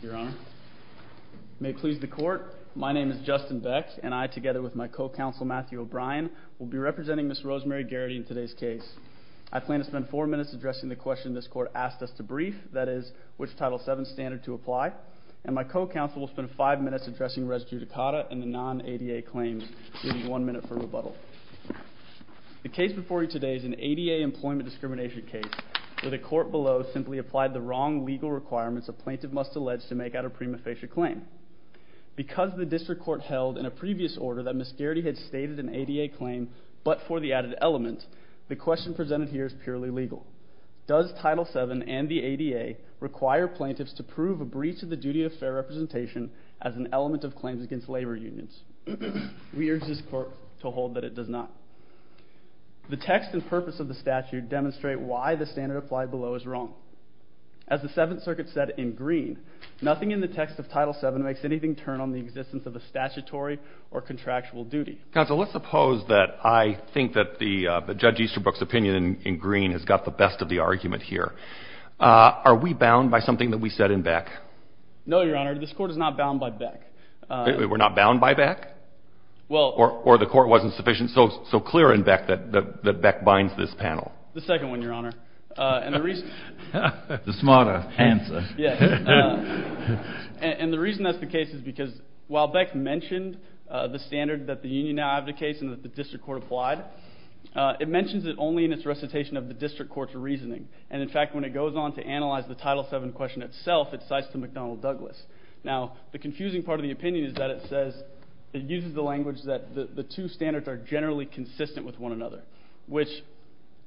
Your Honor, may it please the court, my name is Justin Beck and I, together with my co-counsel Matthew O'Brien, will be representing Ms. Rosemary Garity in today's case. I plan to spend four minutes addressing the question this court asked us to brief, that is, which Title VII standard to apply. And my co-counsel will spend five minutes addressing res judicata and the non-ADA claims. I'll give you one minute for rebuttal. The case before you today is an ADA employment discrimination case where the court below simply applied the wrong legal requirements a plaintiff must allege to make out a prima facie claim. Because the district court held in a previous order that Ms. Garity had stated an ADA claim but for the added element, the question presented here is purely legal. Does Title VII and the ADA require plaintiffs to prove a breach of the duty of fair representation as an element of claims against labor unions? We urge this court to hold that it does not. The text and purpose of the statute demonstrate why the standard applied below is wrong. As the Seventh Circuit said in Green, nothing in the text of Title VII makes anything turn on the existence of a statutory or contractual duty. Counsel, let's suppose that I think that Judge Easterbrook's opinion in Green has got the best of the argument here. Are we bound by something that we said in Beck? No, Your Honor, this court is not bound by Beck. We're not bound by Beck? Or the court wasn't sufficient so clear in Beck that Beck binds this panel? The second one, Your Honor. The smarter answer. And the reason that's the case is because while Beck mentioned the standard that the union now advocates and that the district court applied, it mentions it only in its recitation of the district court's reasoning. And in fact, when it goes on to analyze the Title VII question itself, it cites to McDonnell Douglas. Now, the confusing part of the opinion is that it says, it uses the language that the two standards are generally consistent with one another, which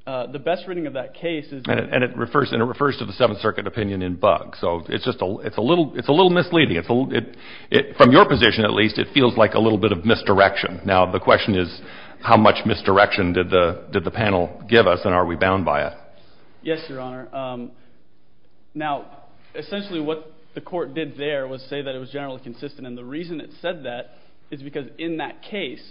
the best reading of that case is that... And it refers to the Seventh Circuit opinion in Buck. So it's just a little misleading. From your position, at least, it feels like a little bit of misdirection. Now, the question is how much misdirection did the panel give us and are we bound by it? Yes, Your Honor. Now, essentially what the court did there was say that it was generally consistent. And the reason it said that is because in that case,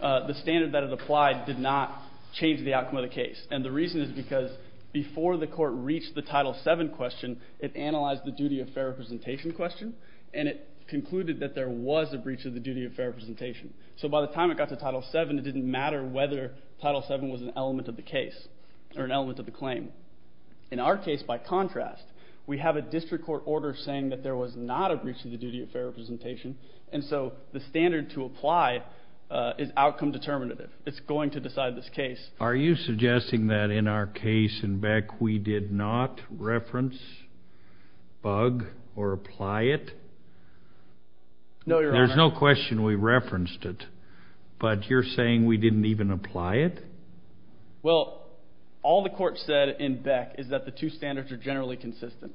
the standard that it applied did not change the outcome of the case. And the reason is because before the court reached the Title VII question, it analyzed the duty of fair representation question, and it concluded that there was a breach of the duty of fair representation. So by the time it got to Title VII, it didn't matter whether Title VII was an element of the case or an element of the claim. In our case, by contrast, we have a district court order saying that there was not a breach of the duty of fair representation, and so the standard to apply is outcome determinative. It's going to decide this case. Are you suggesting that in our case in Beck we did not reference, bug, or apply it? No, Your Honor. There's no question we referenced it, but you're saying we didn't even apply it? Well, all the court said in Beck is that the two standards are generally consistent.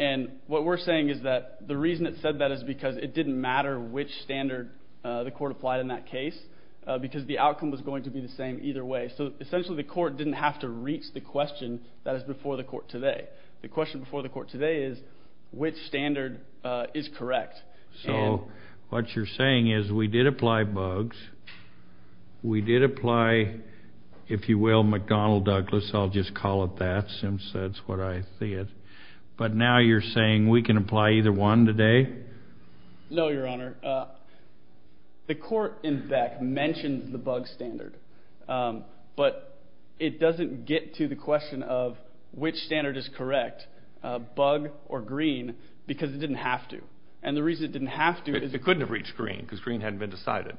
And what we're saying is that the reason it said that is because it didn't matter which standard the court applied in that case because the outcome was going to be the same either way. So essentially the court didn't have to reach the question that is before the court today. The question before the court today is which standard is correct. So what you're saying is we did apply bugs, we did apply, if you will, McDonnell-Douglas, I'll just call it that since that's what I see it, but now you're saying we can apply either one today? No, Your Honor. The court in Beck mentioned the bug standard, but it doesn't get to the question of which standard is correct, bug or green, because it didn't have to. And the reason it didn't have to is it couldn't have reached green because green hadn't been decided.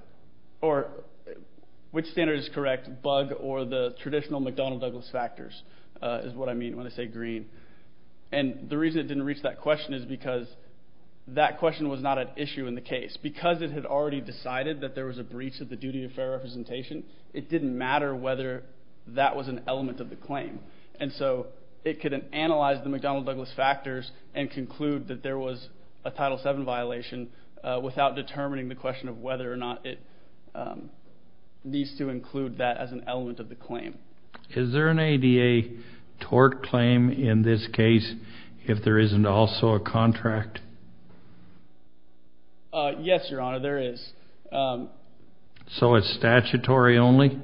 Or which standard is correct, bug or the traditional McDonnell-Douglas factors is what I mean when I say green. And the reason it didn't reach that question is because that question was not an issue in the case. Because it had already decided that there was a breach of the duty of fair representation, it didn't matter whether that was an element of the claim. And so it couldn't analyze the McDonnell-Douglas factors and conclude that there was a Title VII violation without determining the question of whether or not it needs to include that as an element of the claim. Is there an ADA tort claim in this case if there isn't also a contract? Yes, Your Honor, there is. So it's statutory only?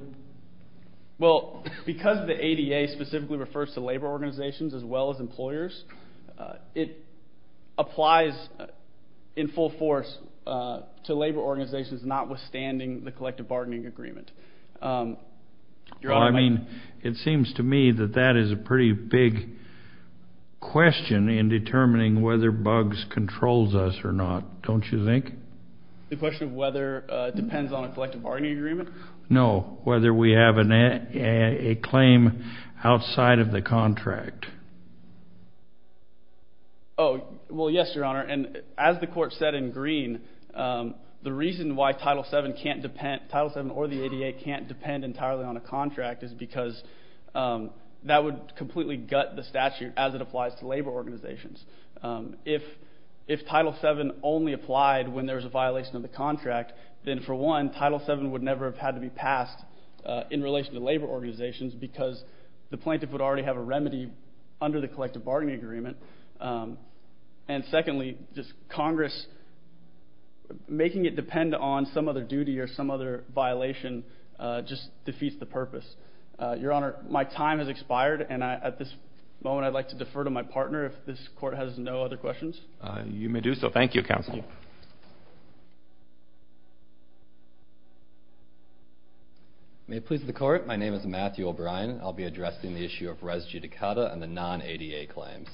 Well, because the ADA specifically refers to labor organizations as well as employers, it applies in full force to labor organizations notwithstanding the collective bargaining agreement. Your Honor, I mean, it seems to me that that is a pretty big question in determining whether bugs controls us or not, don't you think? The question of whether depends on a collective bargaining agreement? No, whether we have a claim outside of the contract. Oh, well, yes, Your Honor, and as the Court said in green, the reason why Title VII or the ADA can't depend entirely on a contract is because that would completely gut the statute as it applies to labor organizations. If Title VII only applied when there was a violation of the contract, then for one, Title VII would never have had to be passed in relation to labor organizations because the plaintiff would already have a remedy under the collective bargaining agreement. And secondly, just Congress making it depend on some other duty or some other violation just defeats the purpose. Your Honor, my time has expired, and at this moment I'd like to defer to my partner if this Court has no other questions. You may do so. Thank you, Counsel. Thank you. May it please the Court, my name is Matthew O'Brien. I'll be addressing the issue of res judicata and the non-ADA claims.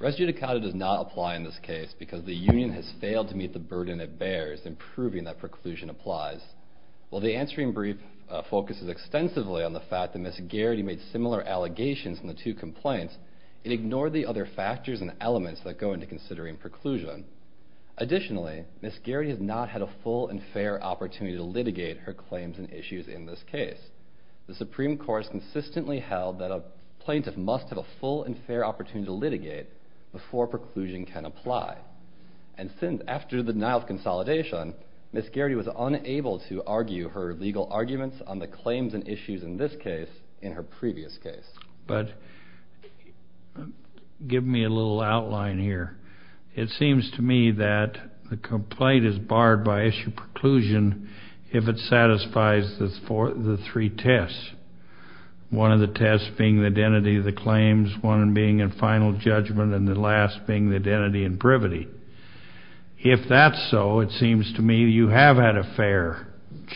Res judicata does not apply in this case because the union has failed to meet the burden it bears in proving that preclusion applies. While the answering brief focuses extensively on the fact that Ms. Garrity made similar allegations in the two complaints, it ignored the other factors and elements that go into considering preclusion. Additionally, Ms. Garrity has not had a full and fair opportunity to litigate her claims and issues in this case. The Supreme Court has consistently held that a plaintiff must have a full and fair opportunity to litigate before preclusion can apply. And since after the denial of consolidation, Ms. Garrity was unable to argue her legal arguments on the claims and issues in this case in her previous case. But give me a little outline here. It seems to me that the complaint is barred by issue preclusion if it satisfies the three tests, one of the tests being the identity of the claims, one being in final judgment, and the last being the identity and privity. If that's so, it seems to me you have had a fair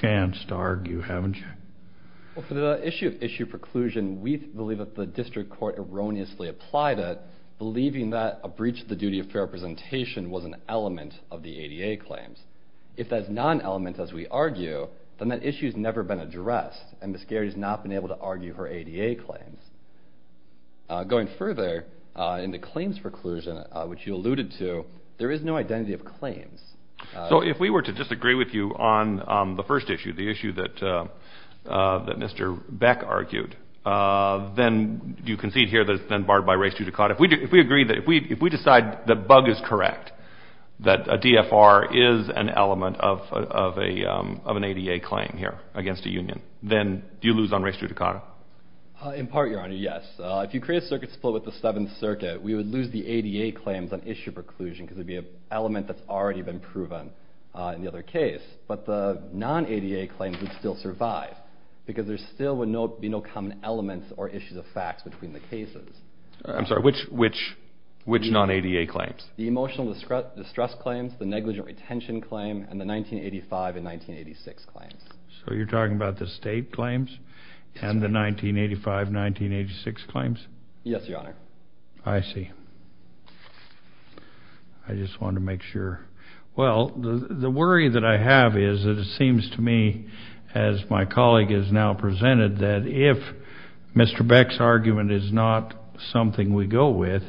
chance to argue, haven't you? For the issue of issue preclusion, we believe that the district court erroneously applied it, believing that a breach of the duty of fair representation was an element of the ADA claims. If that's not an element, as we argue, then that issue has never been addressed, and Ms. Garrity has not been able to argue her ADA claims. Going further, in the claims preclusion, which you alluded to, there is no identity of claims. So if we were to disagree with you on the first issue, the issue that Mr. Beck argued, then do you concede here that it's been barred by res judicata? If we agree that if we decide the bug is correct, that a DFR is an element of an ADA claim here against a union, then do you lose on res judicata? In part, Your Honor, yes. If you create a circuit split with the Seventh Circuit, we would lose the ADA claims on issue preclusion because it would be an element that's already been proven in the other case. But the non-ADA claims would still survive because there still would be no common elements or issues of facts between the cases. I'm sorry, which non-ADA claims? The emotional distress claims, the negligent retention claim, and the 1985 and 1986 claims. So you're talking about the state claims and the 1985 and 1986 claims? Yes, Your Honor. I see. I just wanted to make sure. Well, the worry that I have is that it seems to me, as my colleague has now presented, that if Mr. Beck's argument is not something we go with,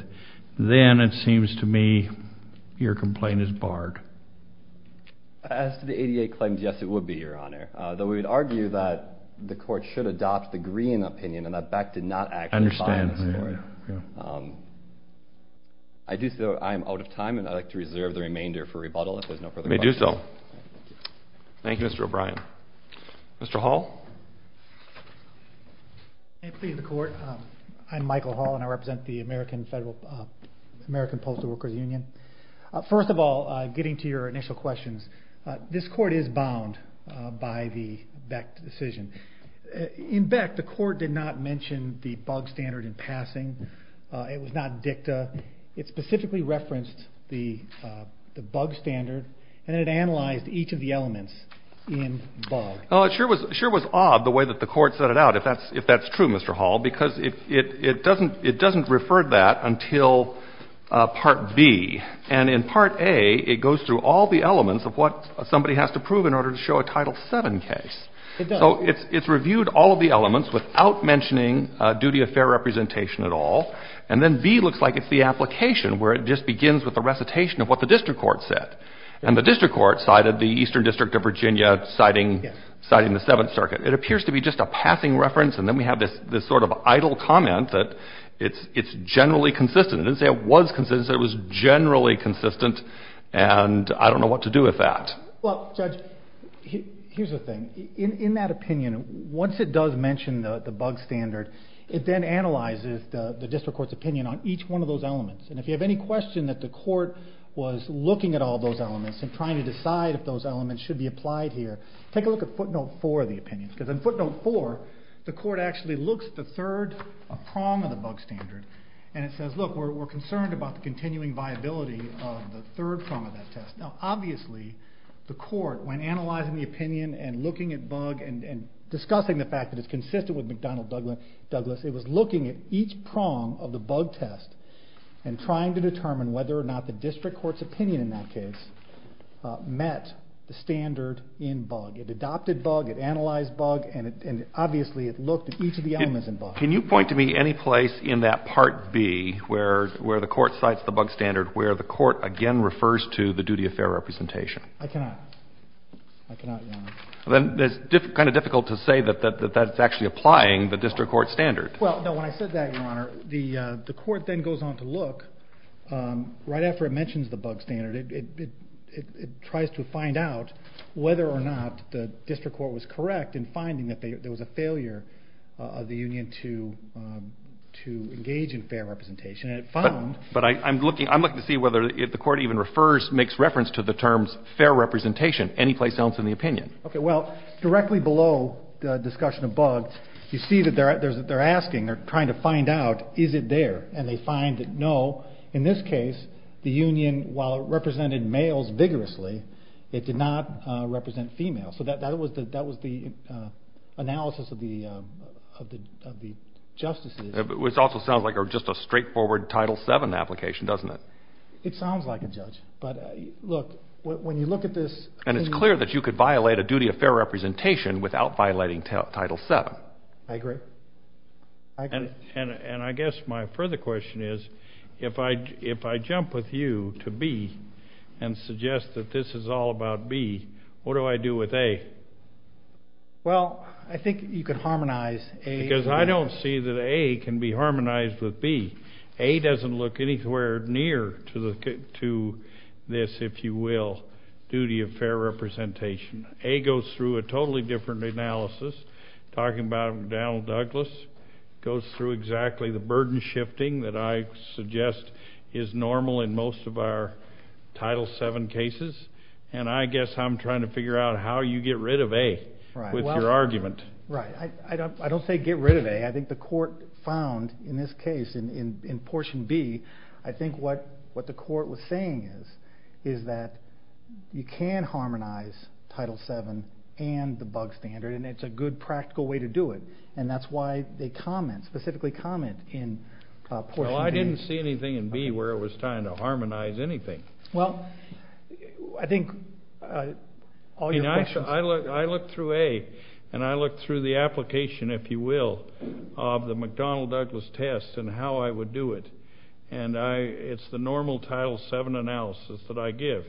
then it seems to me your complaint is barred. As to the ADA claims, yes, it would be, Your Honor, though we would argue that the court should adopt the Green opinion and that Beck did not actually buy the story. I do so. I am out of time, and I'd like to reserve the remainder for rebuttal, if there's no further questions. You may do so. Thank you, Mr. O'Brien. Mr. Hall? May it please the Court? I'm Michael Hall, and I represent the American Postal Workers Union. First of all, getting to your initial questions, this Court is bound by the Beck decision. In Beck, the Court did not mention the bug standard in passing. It was not dicta. It specifically referenced the bug standard, and it analyzed each of the elements in bug. Well, it sure was odd the way that the Court set it out, if that's true, Mr. Hall, because it doesn't refer to that until Part B. And in Part A, it goes through all the elements of what somebody has to prove in order to show a Title VII case. It does. So it's reviewed all of the elements without mentioning duty of fair representation at all. And then B looks like it's the application, where it just begins with the recitation of what the district court said. And the district court cited the Eastern District of Virginia, citing the Seventh Circuit. It appears to be just a passing reference, and then we have this sort of idle comment that it's generally consistent. It didn't say it was consistent. It said it was generally consistent, and I don't know what to do with that. Well, Judge, here's the thing. In that opinion, once it does mention the bug standard, it then analyzes the district court's opinion on each one of those elements. And if you have any question that the court was looking at all those elements and trying to decide if those elements should be applied here, take a look at footnote 4 of the opinion, because in footnote 4, the court actually looks at the third prong of the bug standard, and it says, look, we're concerned about the continuing viability of the third prong of that test. Now, obviously, the court, when analyzing the opinion and looking at bug and discussing the fact that it's consistent with McDonnell-Douglas, it was looking at each prong of the bug test and trying to determine whether or not the district court's opinion in that case met the standard in bug. It adopted bug. It analyzed bug. And obviously, it looked at each of the elements in bug. Can you point to me any place in that Part B, where the court cites the bug standard, where the court again refers to the duty of fair representation? I cannot. I cannot, Your Honor. Then it's kind of difficult to say that that's actually applying the district court standard. Well, no. When I said that, Your Honor, the court then goes on to look. Right after it mentions the bug standard, it tries to find out whether or not the district court was correct in finding that there was a failure of the union to engage in fair representation. But I'm looking to see whether the court even makes reference to the terms fair representation anyplace else in the opinion. Okay. Well, directly below the discussion of bug, you see that they're asking or trying to find out, is it there? And they find that no. In this case, the union, while it represented males vigorously, it did not represent females. So that was the analysis of the justices. Which also sounds like just a straightforward Title VII application, doesn't it? It sounds like it, Judge. But, look, when you look at this. And it's clear that you could violate a duty of fair representation without violating Title VII. I agree. I agree. And I guess my further question is, if I jump with you to B and suggest that this is all about B, what do I do with A? Well, I think you could harmonize A. Because I don't see that A can be harmonized with B. A doesn't look anywhere near to this, if you will, duty of fair representation. A goes through a totally different analysis. Talking about Donald Douglas, goes through exactly the burden shifting that I suggest is normal in most of our Title VII cases. And I guess I'm trying to figure out how you get rid of A with your argument. Right. I don't say get rid of A. I think the court found in this case, in portion B, I think what the court was saying is that you can harmonize Title VII and the bug standard. And it's a good practical way to do it. And that's why they comment, specifically comment in portion B. Well, I didn't see anything in B where it was trying to harmonize anything. Well, I think all your questions. I looked through A, and I looked through the application, if you will, of the McDonnell-Douglas test and how I would do it. And it's the normal Title VII analysis that I give.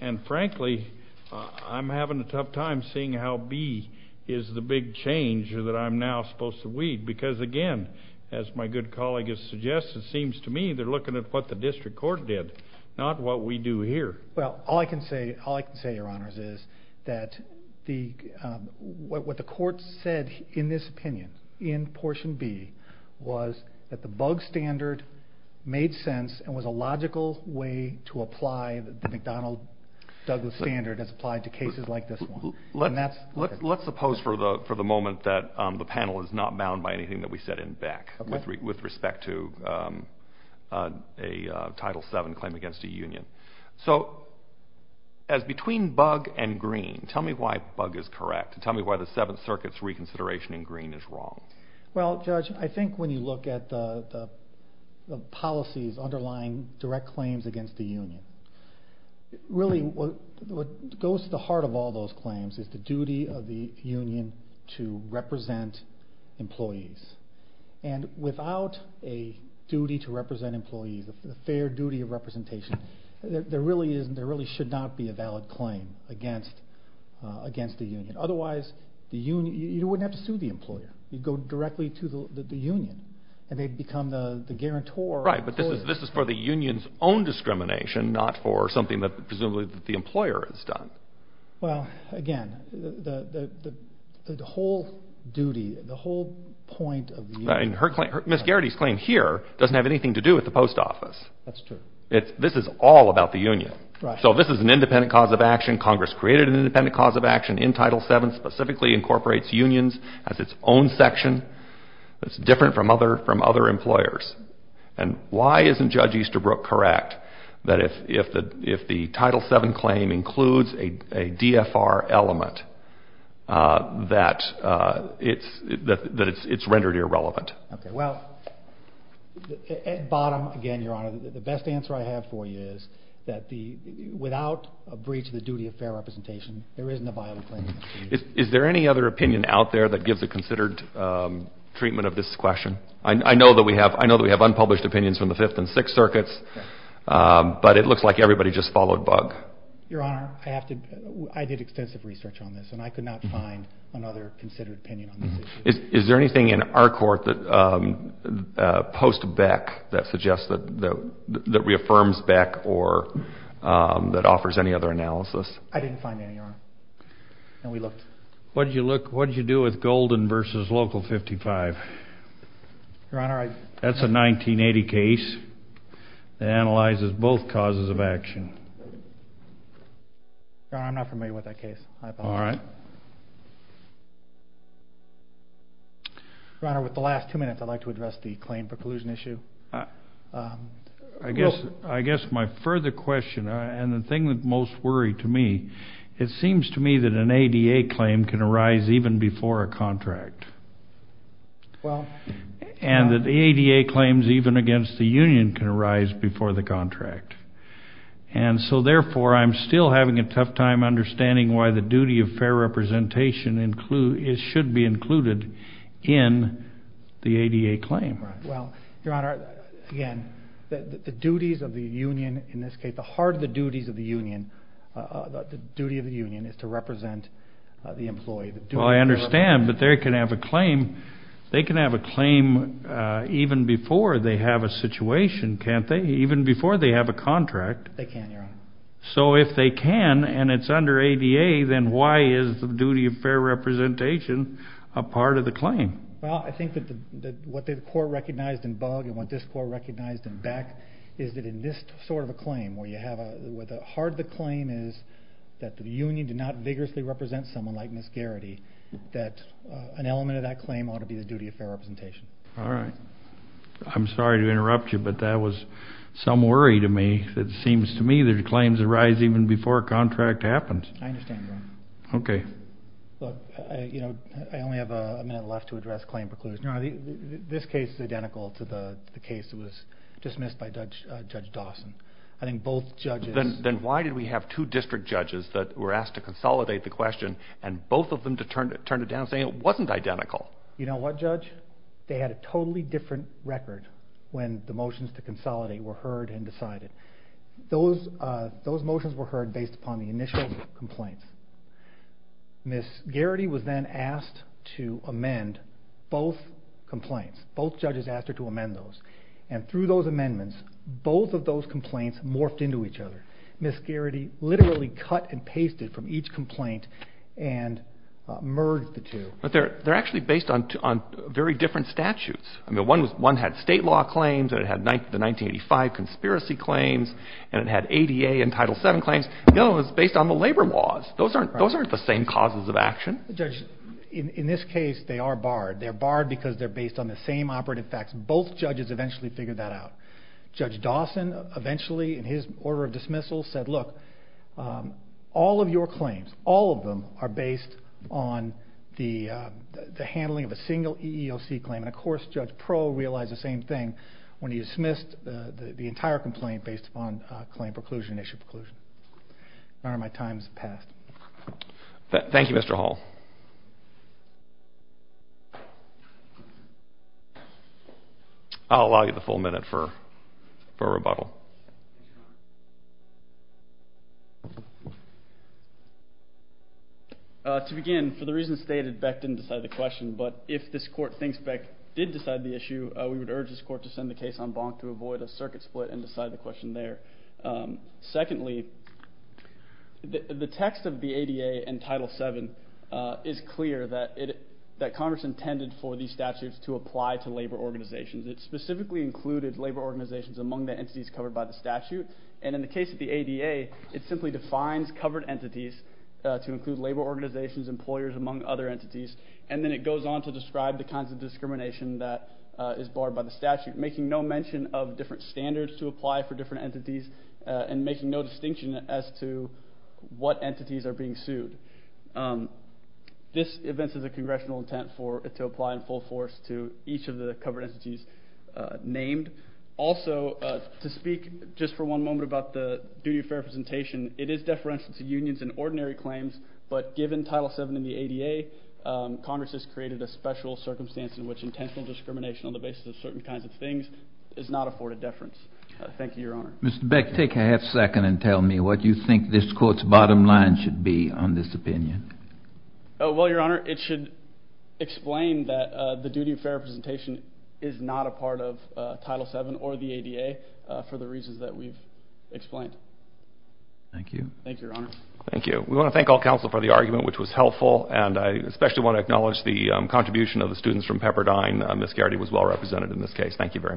And, frankly, I'm having a tough time seeing how B is the big change that I'm now supposed to weed. Because, again, as my good colleague has suggested, it seems to me they're looking at what the district court did, not what we do here. Well, all I can say, Your Honors, is that what the court said in this opinion, in portion B, was that the bug standard made sense and was a logical way to apply the McDonnell-Douglas standard as applied to cases like this one. Let's suppose for the moment that the panel is not bound by anything that we said in Beck with respect to a Title VII claim against a union. So, as between bug and green, tell me why bug is correct. Tell me why the Seventh Circuit's reconsideration in green is wrong. Well, Judge, I think when you look at the policies underlying direct claims against the union, really what goes to the heart of all those claims is the duty of the union to represent employees. And without a duty to represent employees, a fair duty of representation, there really should not be a valid claim against the union. Otherwise, you wouldn't have to sue the employer. You'd go directly to the union, and they'd become the guarantor. Right, but this is for the union's own discrimination, not for something that presumably the employer has done. Well, again, the whole duty, the whole point of the union... Ms. Garrity's claim here doesn't have anything to do with the post office. That's true. This is all about the union. So this is an independent cause of action. Congress created an independent cause of action in Title VII, specifically incorporates unions as its own section. It's different from other employers. And why isn't Judge Easterbrook correct that if the Title VII claim includes a DFR element, that it's rendered irrelevant? Okay, well, at bottom, again, Your Honor, the best answer I have for you is that without a breach of the duty of fair representation, there isn't a valid claim against the union. Is there any other opinion out there that gives a considered treatment of this question? I know that we have unpublished opinions from the Fifth and Sixth Circuits, but it looks like everybody just followed Bug. Your Honor, I did extensive research on this, and I could not find another considered opinion on this issue. Is there anything in our court post Beck that suggests that reaffirms Beck or that offers any other analysis? I didn't find any, Your Honor, and we looked. What did you look? What did you do with Golden v. Local 55? Your Honor, I. That's a 1980 case that analyzes both causes of action. Your Honor, I'm not familiar with that case. All right. Your Honor, with the last two minutes, I'd like to address the claim preclusion issue. I guess my further question and the thing that most worried to me, it seems to me that an ADA claim can arise even before a contract. Well. And that the ADA claims even against the union can arise before the contract. And so, therefore, I'm still having a tough time understanding why the duty of fair representation should be included in the ADA claim. Well, Your Honor, again, the duties of the union in this case, the heart of the duties of the union, the duty of the union is to represent the employee. Well, I understand, but they can have a claim. They can have a claim even before they have a situation, can't they? Even before they have a contract. They can, Your Honor. So if they can and it's under ADA, then why is the duty of fair representation a part of the claim? Well, I think that what the court recognized in Bug and what this court recognized in Beck is that in this sort of a claim where you have a, where the heart of the claim is that the union did not vigorously represent someone like Ms. Garrity, that an element of that claim ought to be the duty of fair representation. All right. I'm sorry to interrupt you, but that was some worry to me. It seems to me that claims arise even before a contract happens. I understand, Your Honor. Okay. Look, I only have a minute left to address claim precluders. Your Honor, this case is identical to the case that was dismissed by Judge Dawson. I think both judges. Then why did we have two district judges that were asked to consolidate the question and both of them turned it down saying it wasn't identical? You know what, Judge? They had a totally different record when the motions to consolidate were heard and decided. Those motions were heard based upon the initial complaints. Ms. Garrity was then asked to amend both complaints. Both judges asked her to amend those. And through those amendments, both of those complaints morphed into each other. Ms. Garrity literally cut and pasted from each complaint and merged the two. But they're actually based on very different statutes. I mean, one had state law claims and it had the 1985 conspiracy claims and it had ADA and Title VII claims. The other one was based on the labor laws. Those aren't the same causes of action. Judge, in this case, they are barred. They're barred because they're based on the same operative facts. Both judges eventually figured that out. Judge Dawson eventually, in his order of dismissal, said, look, all of your claims, all of them are based on the handling of a single EEOC claim. And, of course, Judge Pearl realized the same thing when he dismissed the entire complaint based upon claim preclusion, issue preclusion. My time has passed. Thank you, Mr. Hall. I'll allow you the full minute for rebuttal. To begin, for the reasons stated, Beck didn't decide the question. But if this court thinks Beck did decide the issue, we would urge this court to send the case on bonk to avoid a circuit split and decide the question there. Secondly, the text of the ADA and Title VII is clear that Congress intended for these statutes to apply to labor organizations. It specifically included labor organizations among the entities covered by the statute. And in the case of the ADA, it simply defines covered entities to include labor organizations, employers, among other entities. And then it goes on to describe the kinds of discrimination that is barred by the statute, making no mention of different standards to apply for different entities, and making no distinction as to what entities are being sued. This events as a congressional intent for it to apply in full force to each of the covered entities named. Also, to speak just for one moment about the duty of fair representation, it is deferential to unions and ordinary claims. But given Title VII in the ADA, Congress has created a special circumstance in which intentional discrimination on the basis of certain kinds of things is not afforded deference. Thank you, Your Honor. Mr. Beck, take a half second and tell me what you think this Court's bottom line should be on this opinion. Well, Your Honor, it should explain that the duty of fair representation is not a part of Title VII or the ADA for the reasons that we've explained. Thank you. Thank you, Your Honor. Thank you. We want to thank all counsel for the argument, which was helpful, and I especially want to acknowledge the contribution of the students from Pepperdine. Ms. Garrity was well represented in this case. Thank you very much.